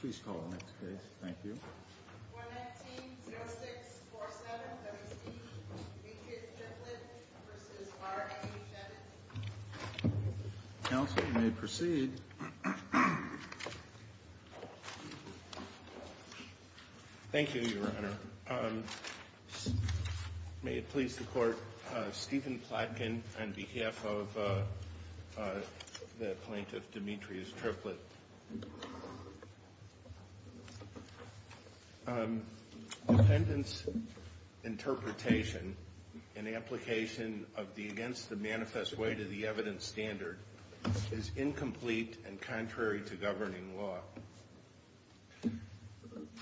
Please call the next case. Thank you. Counsel, you may proceed. Thank you, Your Honor. May it please the court, Stephen Plotkin on behalf of the plaintiff, Demetrius Triplett. Defendant's interpretation and application of the against-the-manifest way to the evidence standard is incomplete and contrary to governing law.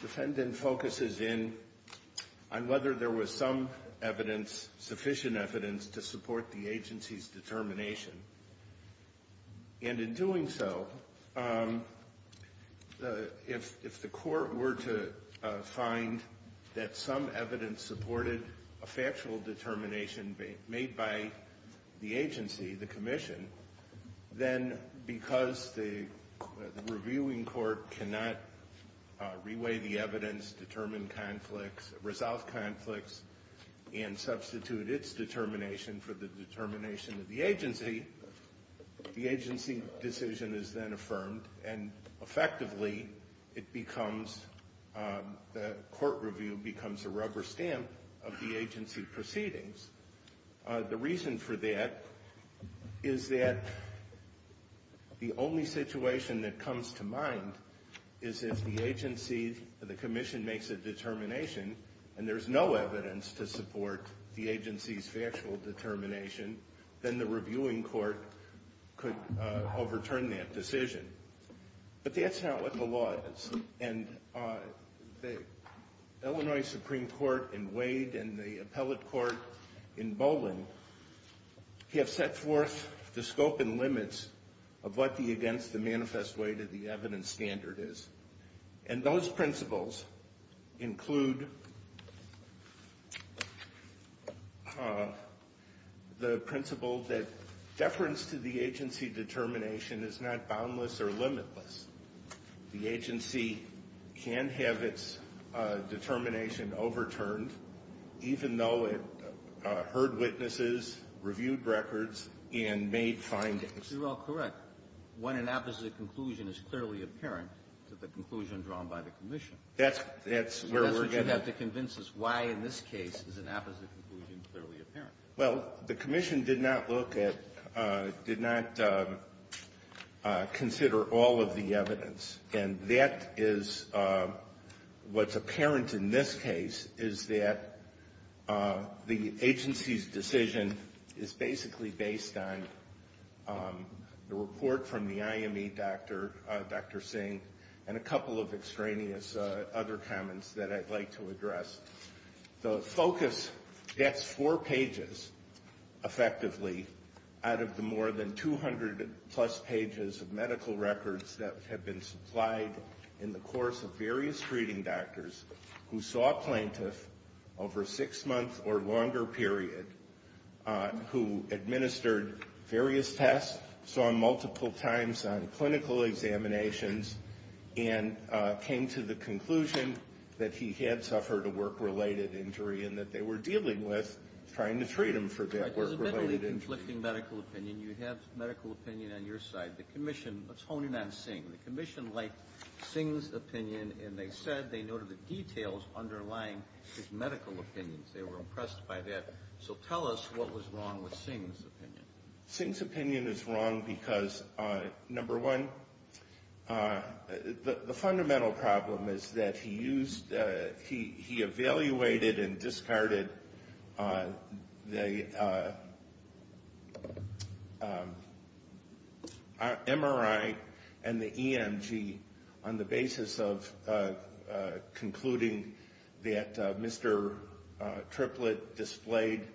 Defendant focuses in on whether there was some sufficient evidence to support the agency's determination. If the court were to find that some evidence supported a factual determination made by the agency, the commission, then because the reviewing court cannot reweigh the evidence, determine conflicts, resolve conflicts, and substitute its determination for the determination of the agency, the agency decision is then affirmed, and effectively, it becomes, the court review becomes a rubber stamp of the agency proceedings. The reason for that is that the only situation that comes to mind is if the agency, the commission makes a determination and there's no evidence to support the agency's factual determination, then the reviewing court could overturn that decision. But that's not what the law is. And the Illinois Supreme Court in Wade and the appellate court in Boland have set forth the scope and limits of what the against-the-manifest way to the evidence standard is. And those principles include the principle that deference to the agency determination is not boundless or limitless. The agency can have its determination overturned even though it heard witnesses, reviewed records, and made findings. You're all correct. When an opposite conclusion is clearly apparent, it's the conclusion drawn by the commission. That's where we're getting at. That's what you have to convince us. Why in this case is an opposite conclusion clearly apparent? Well, the commission did not look at, did not consider all of the evidence. And that is what's apparent in this case is that the agency's decision is basically based on the report from the IME, Dr. Singh, and a couple of extraneous other comments that I'd like to address. The focus gets four pages, effectively, out of the more than 200-plus pages of medical records that have been supplied in the course of various treating doctors who saw a plaintiff over a six-month or longer period, who administered various tests, saw him multiple times on clinical examinations, and came to the conclusion that he had suffered a work-related injury and that they were dealing with trying to treat him for that work-related injury. Right, there's a bit of a conflicting medical opinion. You have medical opinion on your side. The commission, let's hone in on Singh. The commission liked Singh's opinion, and they said they noted the details underlying his medical opinions. They were impressed by that. So tell us what was wrong with Singh's opinion. Singh's opinion is wrong because, number one, the fundamental problem is that he used, he evaluated and discarded the MRI and the EMG on the basis of concluding that Mr. Triplett displayed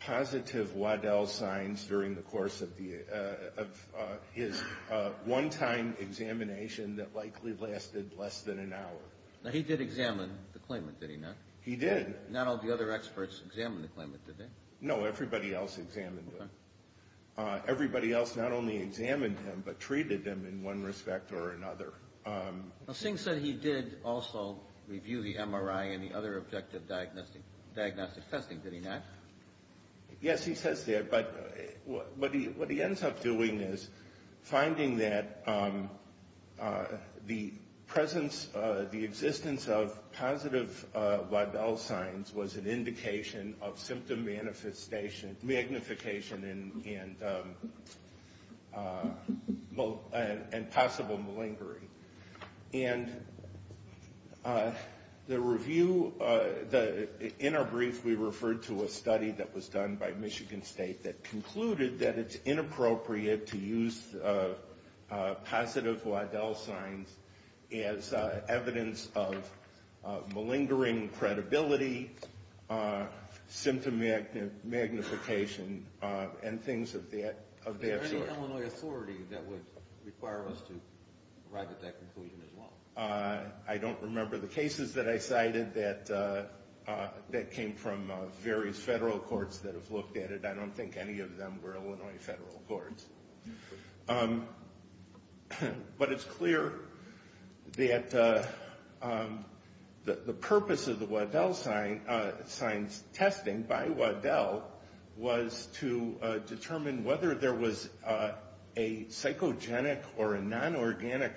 positive Waddell signs during the course of his one-time examination that likely lasted less than an hour. Now, he did examine the claimant, did he not? He did. Not all the other experts examined the claimant, did they? No, everybody else examined him. Everybody else not only examined him, but treated him in one respect or another. Now, Singh said he did also review the MRI and the other objective diagnostic testing, did he not? Yes, he says that, but what he ends up doing is finding that the presence, the existence of positive Waddell signs was an indication of symptom manifestation, magnification and possible malingering. And the review, in our brief, we referred to a study that was done by Michigan State that concluded that it's inappropriate to use positive Waddell signs as evidence of malingering credibility, symptom magnification and things of that sort. Is there any Illinois authority that would require us to arrive at that conclusion as well? I don't remember the cases that I cited that came from various federal courts that have looked at it. I don't think any of them were Illinois federal courts. But it's clear that the purpose of the Waddell signs testing by Waddell was to determine whether there was a psychogenic or a non-organic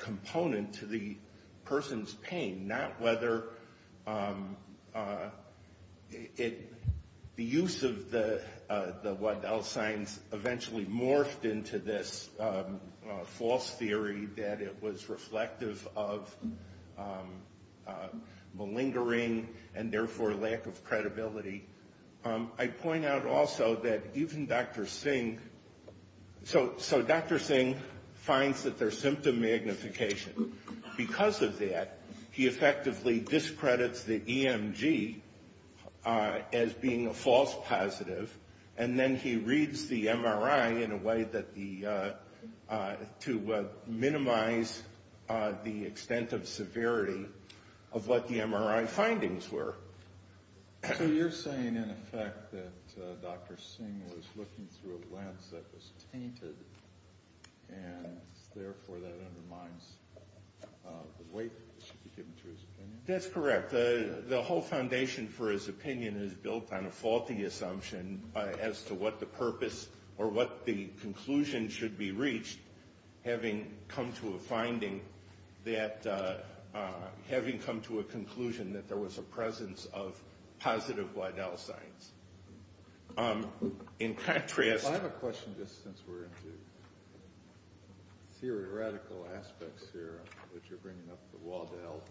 to this false theory that it was reflective of malingering and therefore lack of credibility. I point out also that even Dr. Singh, so Dr. Singh finds that there's symptom magnification. Because of that, he effectively discredits the EMG as being a false positive. And then he reads the MRI in a way that the, to minimize the extent of severity of what the MRI findings were. So you're saying in effect that Dr. Singh was looking through a lens that was tainted and therefore that undermines the weight that should be given to his opinion? That's correct. The whole foundation for his opinion is built on a faulty assumption as to what the purpose or what the conclusion should be reached. Having come to a finding that, having come to a conclusion that there was a presence of positive Waddell signs. In contrast... I have a question just since we're into theoretical aspects here, that you're bringing up the Waddell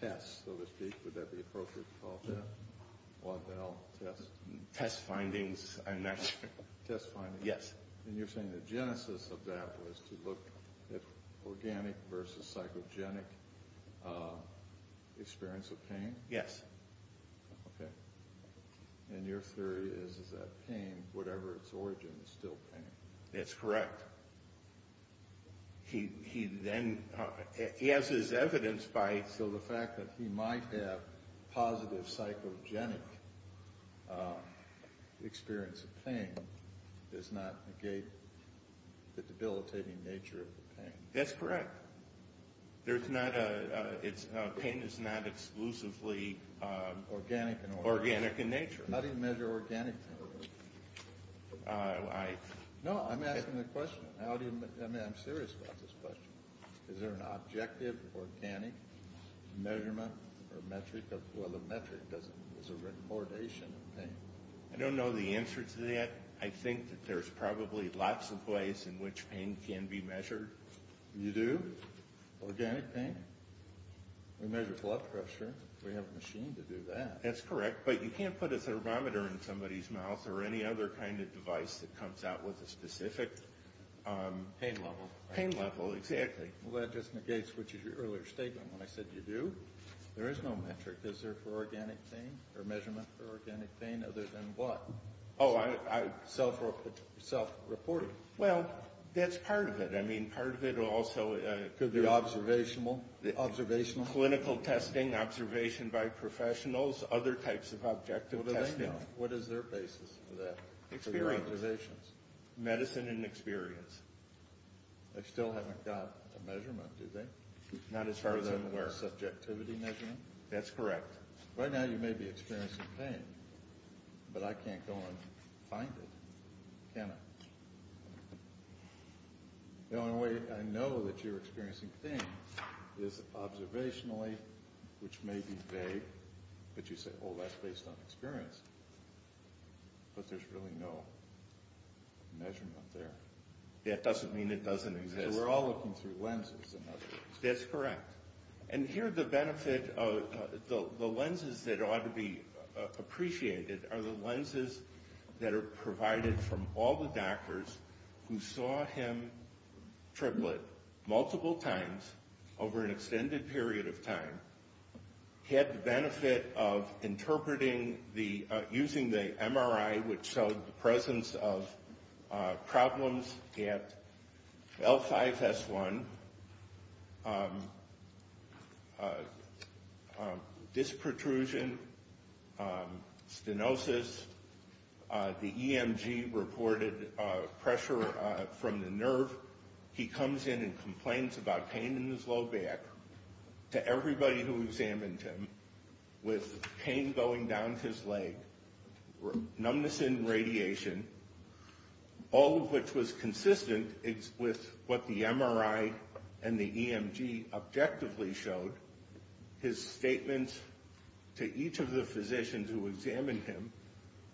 test, so to speak. Would that be appropriate to call that? Waddell test? Test findings, I'm not sure. Test findings? Yes. And you're saying the genesis of that was to look at organic versus psychogenic experience of pain? Yes. Okay. And your theory is that pain, whatever its origin, is still pain. That's correct. He then, as is evidenced by... So the fact that he might have positive psychogenic experience of pain does not negate the debilitating nature of the pain. That's correct. There's not a... Pain is not exclusively organic in nature. How do you measure organic? I... No, I'm asking the question. I mean, I'm serious about this question. Is there an objective, organic measurement or metric? Well, the metric is a recordation of pain. I don't know the answer to that. I think that there's probably lots of ways in which pain can be measured. You do? Organic pain? We measure blood pressure. We have a machine to do that. That's correct. But you can't put a thermometer in somebody's mouth or any other kind of device that comes out with a specific... Pain level. Pain level, exactly. Well, that just negates what was your earlier statement when I said you do. There is no metric. Is there for organic pain or measurement for organic pain other than what? Oh, self-reporting. Well, that's part of it. I mean, part of it also... Could be observational? Clinical testing, observation by professionals, other types of objective testing. What do they know? What is their basis for that? Experience. Medicine and experience. They still haven't got a measurement, do they? Not as far as I'm aware. Subjectivity measurement? That's correct. Right now you may be experiencing pain, but I can't go and find it, can I? The only way I know that you're experiencing pain is observationally, which may be vague, but you say, oh, that's based on experience. But there's really no measurement there. That doesn't mean it doesn't exist. We're all looking through lenses in other ways. That's correct. And here the benefit of the lenses that ought to be appreciated are the lenses that are provided from all the doctors who saw him triplet multiple times over an extended period of time, had the benefit of interpreting using the MRI, which showed the presence of problems at L5S1, disc protrusion, stenosis, the EMG reported pressure from the nerve. He comes in and complains about pain in his low back. To everybody who examined him with pain going down his leg, numbness in radiation, all of which was consistent with what the MRI and the EMG objectively showed, his statements to each of the physicians who examined him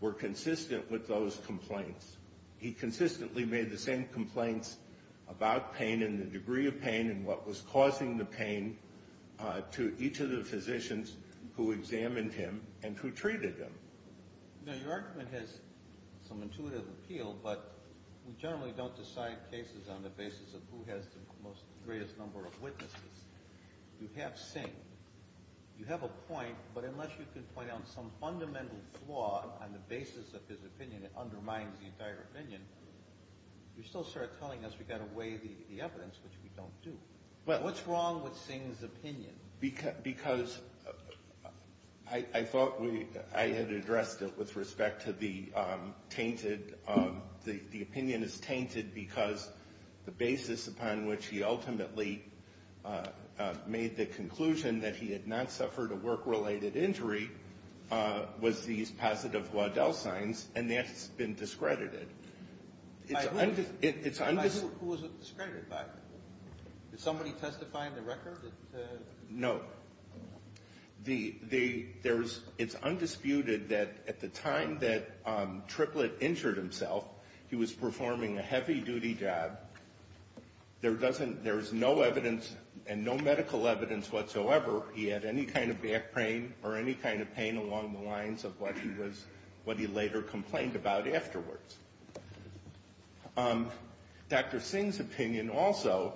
were consistent with those complaints. He consistently made the same complaints about pain and the degree of pain and what was causing the pain to each of the physicians who examined him and who treated him. Now, your argument has some intuitive appeal, but we generally don't decide cases on the basis of who has the greatest number of witnesses. You have Singh. You have a point, but unless you can point out some fundamental flaw on the basis of his opinion that undermines the entire opinion, you still start telling us we've got to weigh the evidence, which we don't do. What's wrong with Singh's opinion? Because I thought I had addressed it with respect to the tainted. The opinion is tainted because the basis upon which he ultimately made the conclusion that he had not suffered a work-related injury was these positive Waddell signs, and that's been discredited. By who was it discredited by? Did somebody testify in the record? No. It's undisputed that at the time that Triplett injured himself, he was performing a heavy-duty job. There's no evidence and no medical evidence whatsoever he had any kind of back pain or any kind of pain along the lines of what he later complained about afterwards. Dr. Singh's opinion also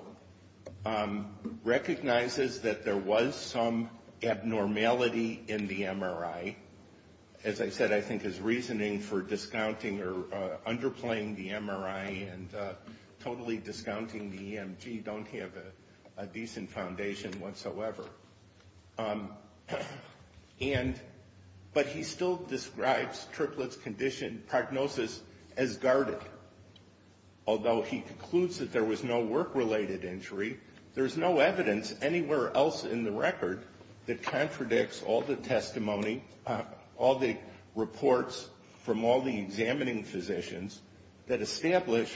recognizes that there was some abnormality in the MRI. As I said, I think his reasoning for discounting or underplaying the MRI and totally discounting the EMG don't have a decent foundation whatsoever. But he still describes Triplett's condition, prognosis, as guarded. Although he concludes that there was no work-related injury, there's no evidence anywhere else in the record that contradicts all the testimony, all the reports from all the examining physicians that establish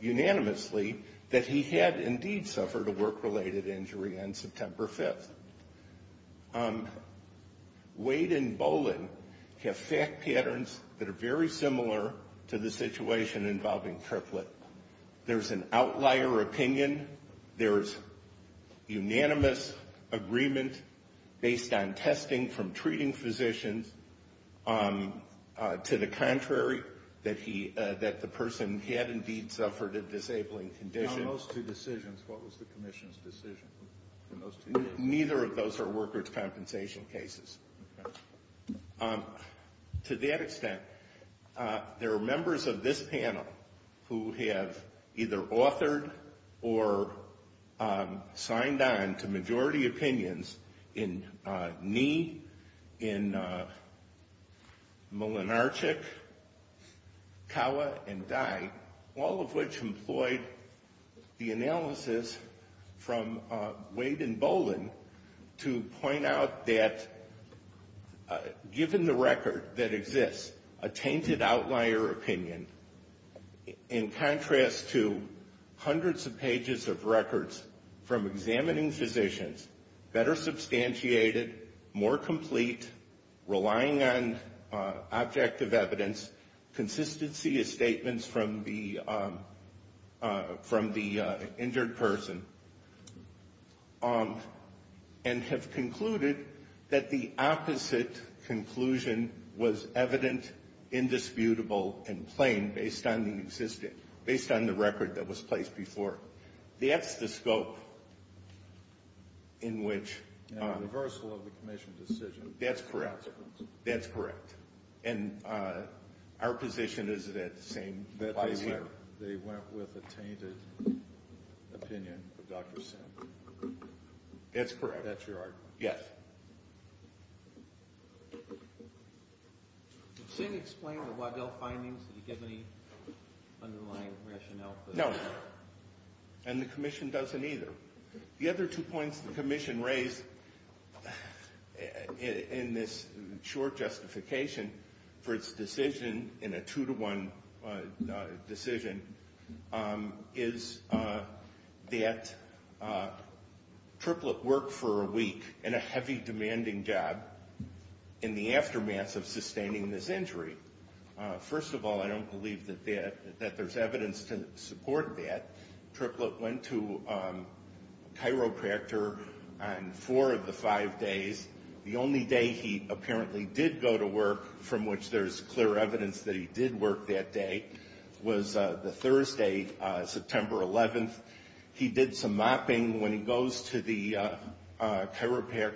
unanimously that he had indeed suffered a work-related injury on September 5th. Wade and Bolin have fact patterns that are very similar to the situation involving Triplett. There's an outlier opinion. There's unanimous agreement based on testing from treating physicians to the contrary, that the person had indeed suffered a disabling condition. On those two decisions, what was the commission's decision? Neither of those are workers' compensation cases. To that extent, there are members of this panel who have either authored or signed on to majority opinions in Nee, in Mlynarczyk, Kawa, and Dye, all of which employed the analysis from Wade and Bolin to point out that given the record that exists, a tainted outlier opinion in contrast to hundreds of pages of records from examining physicians, better substantiated, more complete, relying on objective evidence, consistency of statements from the injured person, and have concluded that the opposite conclusion was evident, indisputable, and plain based on the record that was placed before. That's the scope in which the commission's decision. That's correct. That's correct. And our position is that the same. That they went with a tainted opinion of Dr. Singh. That's correct. That's your argument. Yes. Did Singh explain the Waddell findings? Did he give any underlying rationale for that? No. And the commission doesn't either. The other two points the commission raised in this short justification for its decision, in a two-to-one decision, is that Triplett worked for a week in a heavy, demanding job in the aftermath of sustaining this injury. First of all, I don't believe that there's evidence to support that. Triplett went to chiropractor on four of the five days. The only day he apparently did go to work, from which there's clear evidence that he did work that day, was the Thursday, September 11th. He did some mopping when he goes to the chiropractor.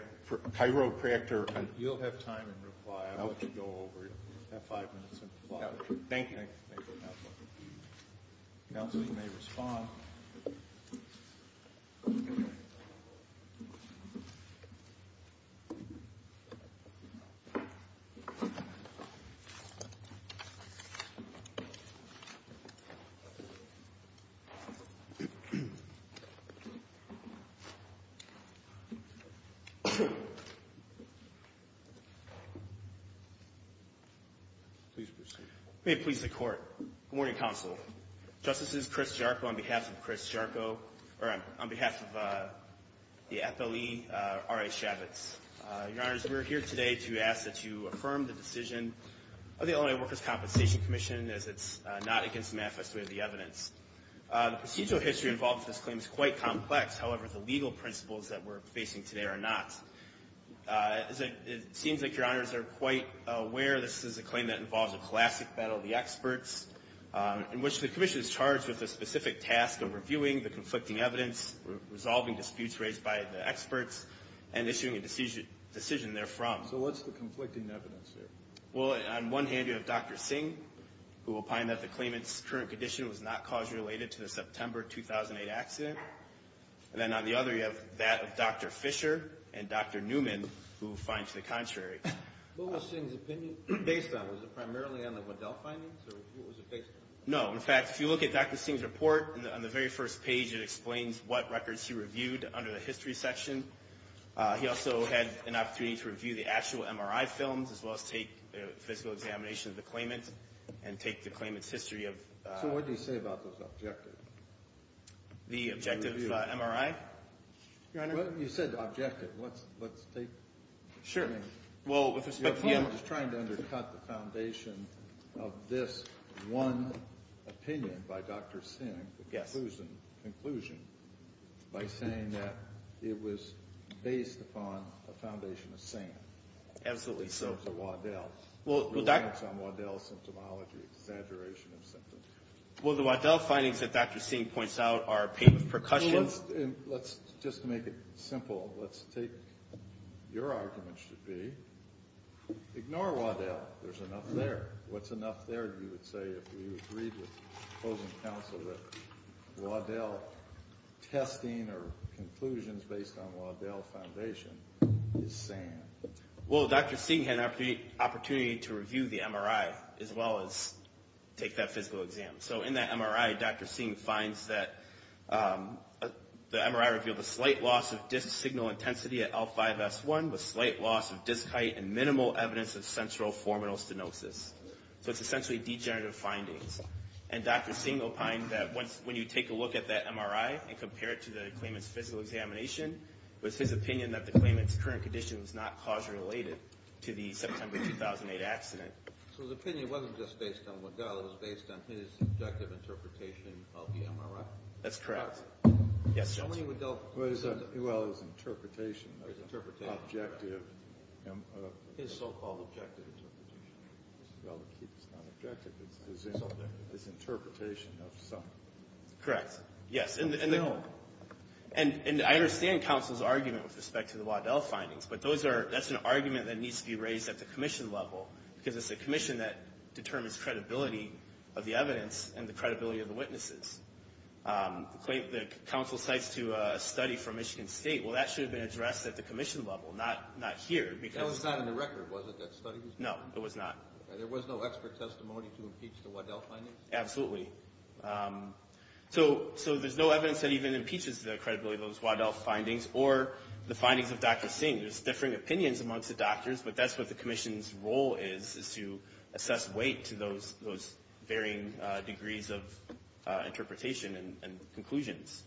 You'll have time in reply. I'll let you go over. You'll have five minutes in reply. Thank you. Counsel, you may respond. Please proceed. May it please the Court. Good morning, Counsel. Justices, Chris Jarko on behalf of Chris Jarko, or on behalf of the FLE, R.I. Chavitz. Your Honors, we're here today to ask that you affirm the decision of the Illinois Workers' Compensation Commission as it's not against the manifesto of the evidence. The procedural history involved in this claim is quite complex. However, the legal principles that we're facing today are not. It seems like Your Honors are quite aware this is a claim that involves a classic battle of the experts, in which the Commission is charged with the specific task of reviewing the conflicting evidence, resolving disputes raised by the experts, and issuing a decision therefrom. So what's the conflicting evidence there? Well, on one hand, you have Dr. Singh, who will find that the claimant's current condition was not causally related to the September 2008 accident. And then on the other, you have that of Dr. Fisher and Dr. Newman, who find to the contrary. What was Singh's opinion based on? Was it primarily on the Waddell findings, or what was it based on? No. In fact, if you look at Dr. Singh's report on the very first page, it explains what records he reviewed under the history section. He also had an opportunity to review the actual MRI films, as well as take a physical examination of the claimant and take the claimant's history of… So what did he say about those objectives? The objective MRI? Your Honor? Well, you said objective. Let's take… Sure. Well, with respect to… Your point is trying to undercut the foundation of this one opinion by Dr. Singh, the conclusion, by saying that it was based upon a foundation of Singh. Absolutely so. It was a Waddell. Well, Dr.… Reliance on Waddell symptomology, exaggeration of symptoms. Well, the Waddell findings that Dr. Singh points out are pain with percussion… Let's just make it simple. Let's take… Your argument should be ignore Waddell. There's enough there. What's enough there, you would say, if we agreed with opposing counsel that Waddell testing or conclusions based on Waddell foundation is sand? Well, Dr. Singh had an opportunity to review the MRI as well as take that physical exam. So in that MRI, Dr. Singh finds that the MRI revealed a slight loss of disc signal intensity at L5-S1 with slight loss of disc height and minimal evidence of sensoroformal stenosis. So it's essentially degenerative findings. And Dr. Singh opined that when you take a look at that MRI and compare it to the claimant's physical examination, it was his opinion that the claimant's current condition was not cause-related to the September 2008 accident. So his opinion wasn't just based on Waddell. It was based on his objective interpretation of the MRI? That's correct. Yes, Judge. What do you mean Waddell… Well, his interpretation… His interpretation… Objective… His so-called objective interpretation. Well, it's not objective. It's interpretation of some… Correct. Yes. And I understand counsel's argument with respect to the Waddell findings, but that's an argument that needs to be raised at the commission level because it's the commission that determines credibility of the evidence and the credibility of the witnesses. The counsel cites to a study from Michigan State. Well, that should have been addressed at the commission level, not here. That was not in the record, was it, that study? No, it was not. There was no expert testimony to impeach the Waddell findings? Absolutely. So there's no evidence that even impeaches the credibility of those Waddell findings or the findings of Dr. Singh. There's differing opinions amongst the doctors, but that's what the commission's role is, is to assess weight to those varying degrees of interpretation and conclusions.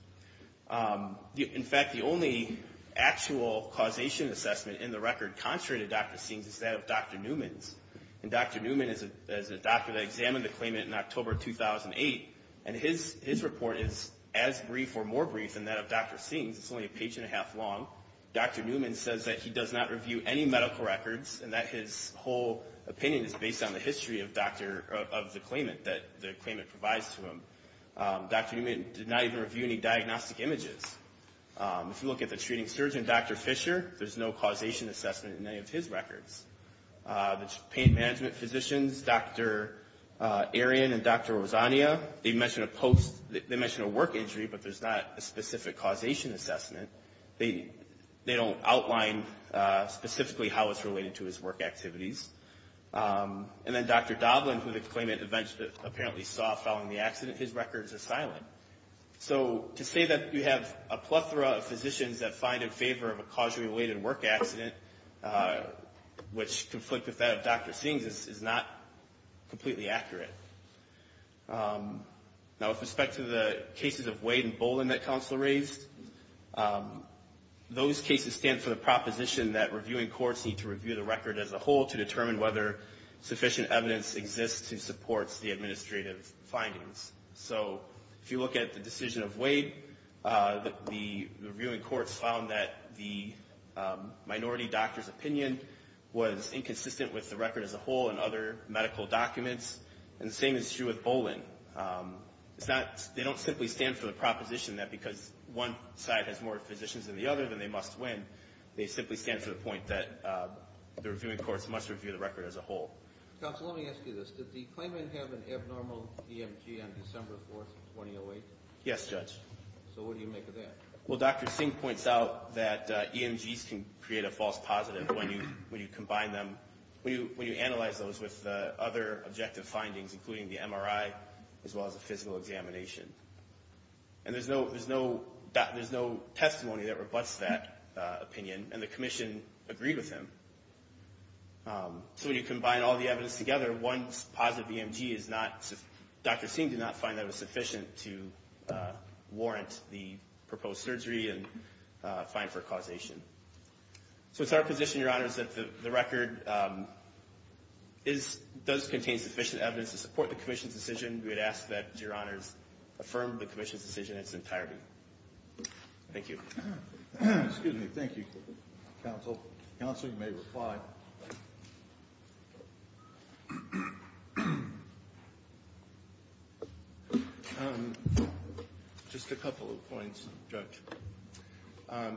In fact, the only actual causation assessment in the record contrary to Dr. Singh's is that of Dr. Newman's. And Dr. Newman is a doctor that examined the claimant in October 2008, and his report is as brief or more brief than that of Dr. Singh's. It's only a page and a half long. Dr. Newman says that he does not review any medical records and that his whole opinion is based on the history of the claimant that the claimant provides to him. Dr. Newman did not even review any diagnostic images. If you look at the treating surgeon, Dr. Fisher, there's no causation assessment in any of his records. The pain management physicians, Dr. Arian and Dr. Rosania, they mention a work injury, but there's not a specific causation assessment. They don't outline specifically how it's related to his work activities. And then Dr. Doblin, who the claimant apparently saw following the accident, his records are silent. So to say that you have a plethora of physicians that find in favor of a causally-related work accident, which conflict with that of Dr. Singh's, is not completely accurate. Now, with respect to the cases of Wade and Bolin that counsel raised, those cases stand for the proposition that reviewing courts need to review the record as a whole to determine whether sufficient evidence exists to support the administrative findings. So if you look at the decision of Wade, the reviewing courts found that the minority doctor's opinion was inconsistent with the record as a whole and other medical documents, and the same is true with Bolin. They don't simply stand for the proposition that because one side has more physicians than the other, then they must win. They simply stand for the point that the reviewing courts must review the record as a whole. Counsel, let me ask you this. Did the claimant have an abnormal EMG on December 4th, 2008? Yes, Judge. So what do you make of that? Well, Dr. Singh points out that EMGs can create a false positive when you combine them, when you analyze those with other objective findings, including the MRI as well as a physical examination. And there's no testimony that rebutts that opinion, and the commission agreed with him. So when you combine all the evidence together, one positive EMG is not, Dr. Singh did not find that it was sufficient to warrant the proposed surgery and fine for causation. So it's our position, Your Honors, that the record does contain sufficient evidence to support the commission's decision. We would ask that Your Honors affirm the commission's decision in its entirety. Thank you. Excuse me. Thank you, Counsel. Counsel, you may reply. Just a couple of points, Judge. The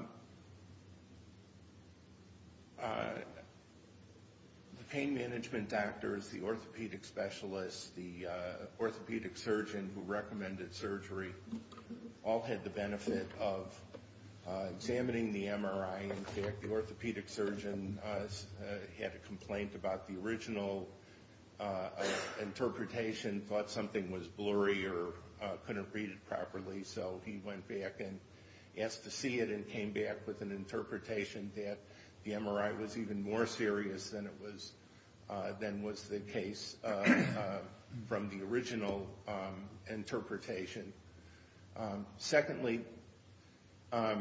pain management doctors, the orthopedic specialists, the orthopedic surgeon who recommended surgery, all had the benefit of examining the MRI. In fact, the orthopedic surgeon had a complaint about the original interpretation, thought something was blurry or couldn't read it properly, so he went back and asked to see it and came back with an interpretation that the MRI was even more serious than was the case from the original interpretation. Secondly, the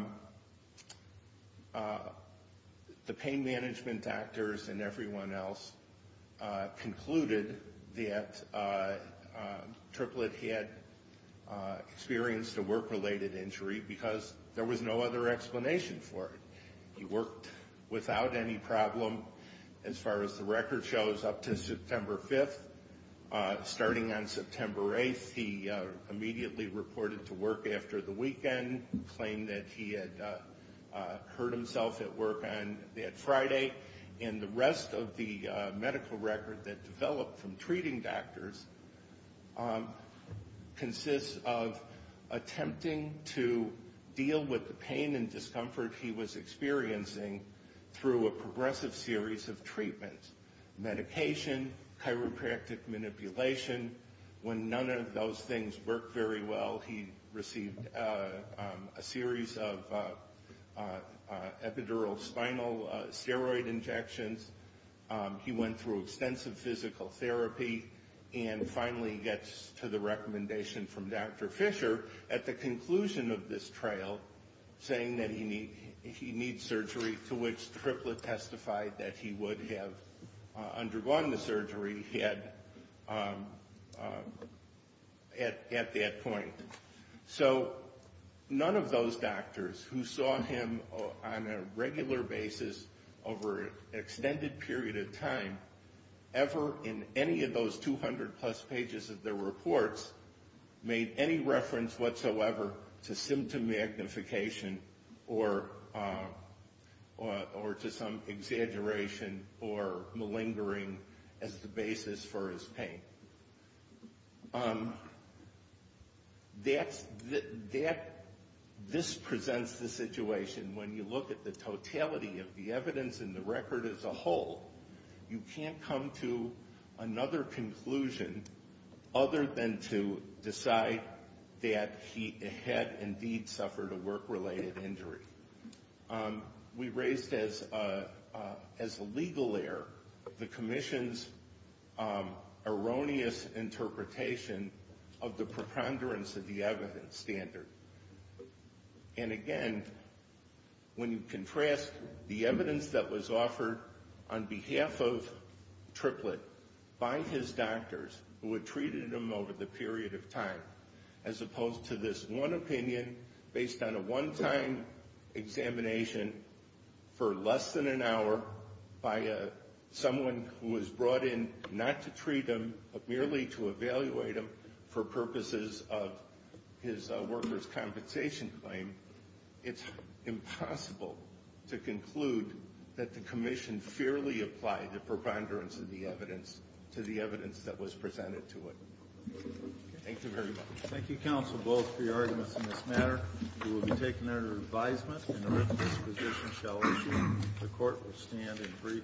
pain management doctors and everyone else concluded that Triplett had experienced a work-related injury because there was no other explanation for it. He worked without any problem, as far as the record shows, up to September 5th. Starting on September 8th, he immediately reported to work after the weekend, claimed that he had hurt himself at work on that Friday. And the rest of the medical record that developed from treating doctors consists of attempting to deal with the pain and discomfort he was experiencing through a progressive series of treatments, medication, chiropractic manipulation. When none of those things worked very well, he received a series of epidural spinal steroid injections. He went through extensive physical therapy and finally gets to the recommendation from Dr. Fisher at the conclusion of this trail saying that he needs surgery, to which Triplett testified that he would have undergone the surgery he had at that point. So none of those doctors who saw him on a regular basis over an extended period of time ever in any of those 200 plus pages of their reports made any reference whatsoever to symptom magnification or to some exaggeration or malingering as the basis for his pain. This presents the situation, when you look at the totality of the evidence in the record as a whole, you can't come to another conclusion other than to decide that he had indeed suffered a work-related injury. We raised as a legal error the Commission's erroneous interpretation of the preponderance of the evidence standard. And again, when you contrast the evidence that was offered on behalf of Triplett by his doctors who had treated him over the period of time, as opposed to this one opinion based on a one-time examination for less than an hour by someone who was brought in not to treat him but merely to evaluate him for purposes of his workers' compensation claim, it's impossible to conclude that the Commission fairly applied the preponderance of the evidence to the evidence that was presented to it. Thank you very much. Thank you, counsel, both for your arguments in this matter. We will be taking our advisement and the rest of this position shall issue. The Court will stand in brief recess.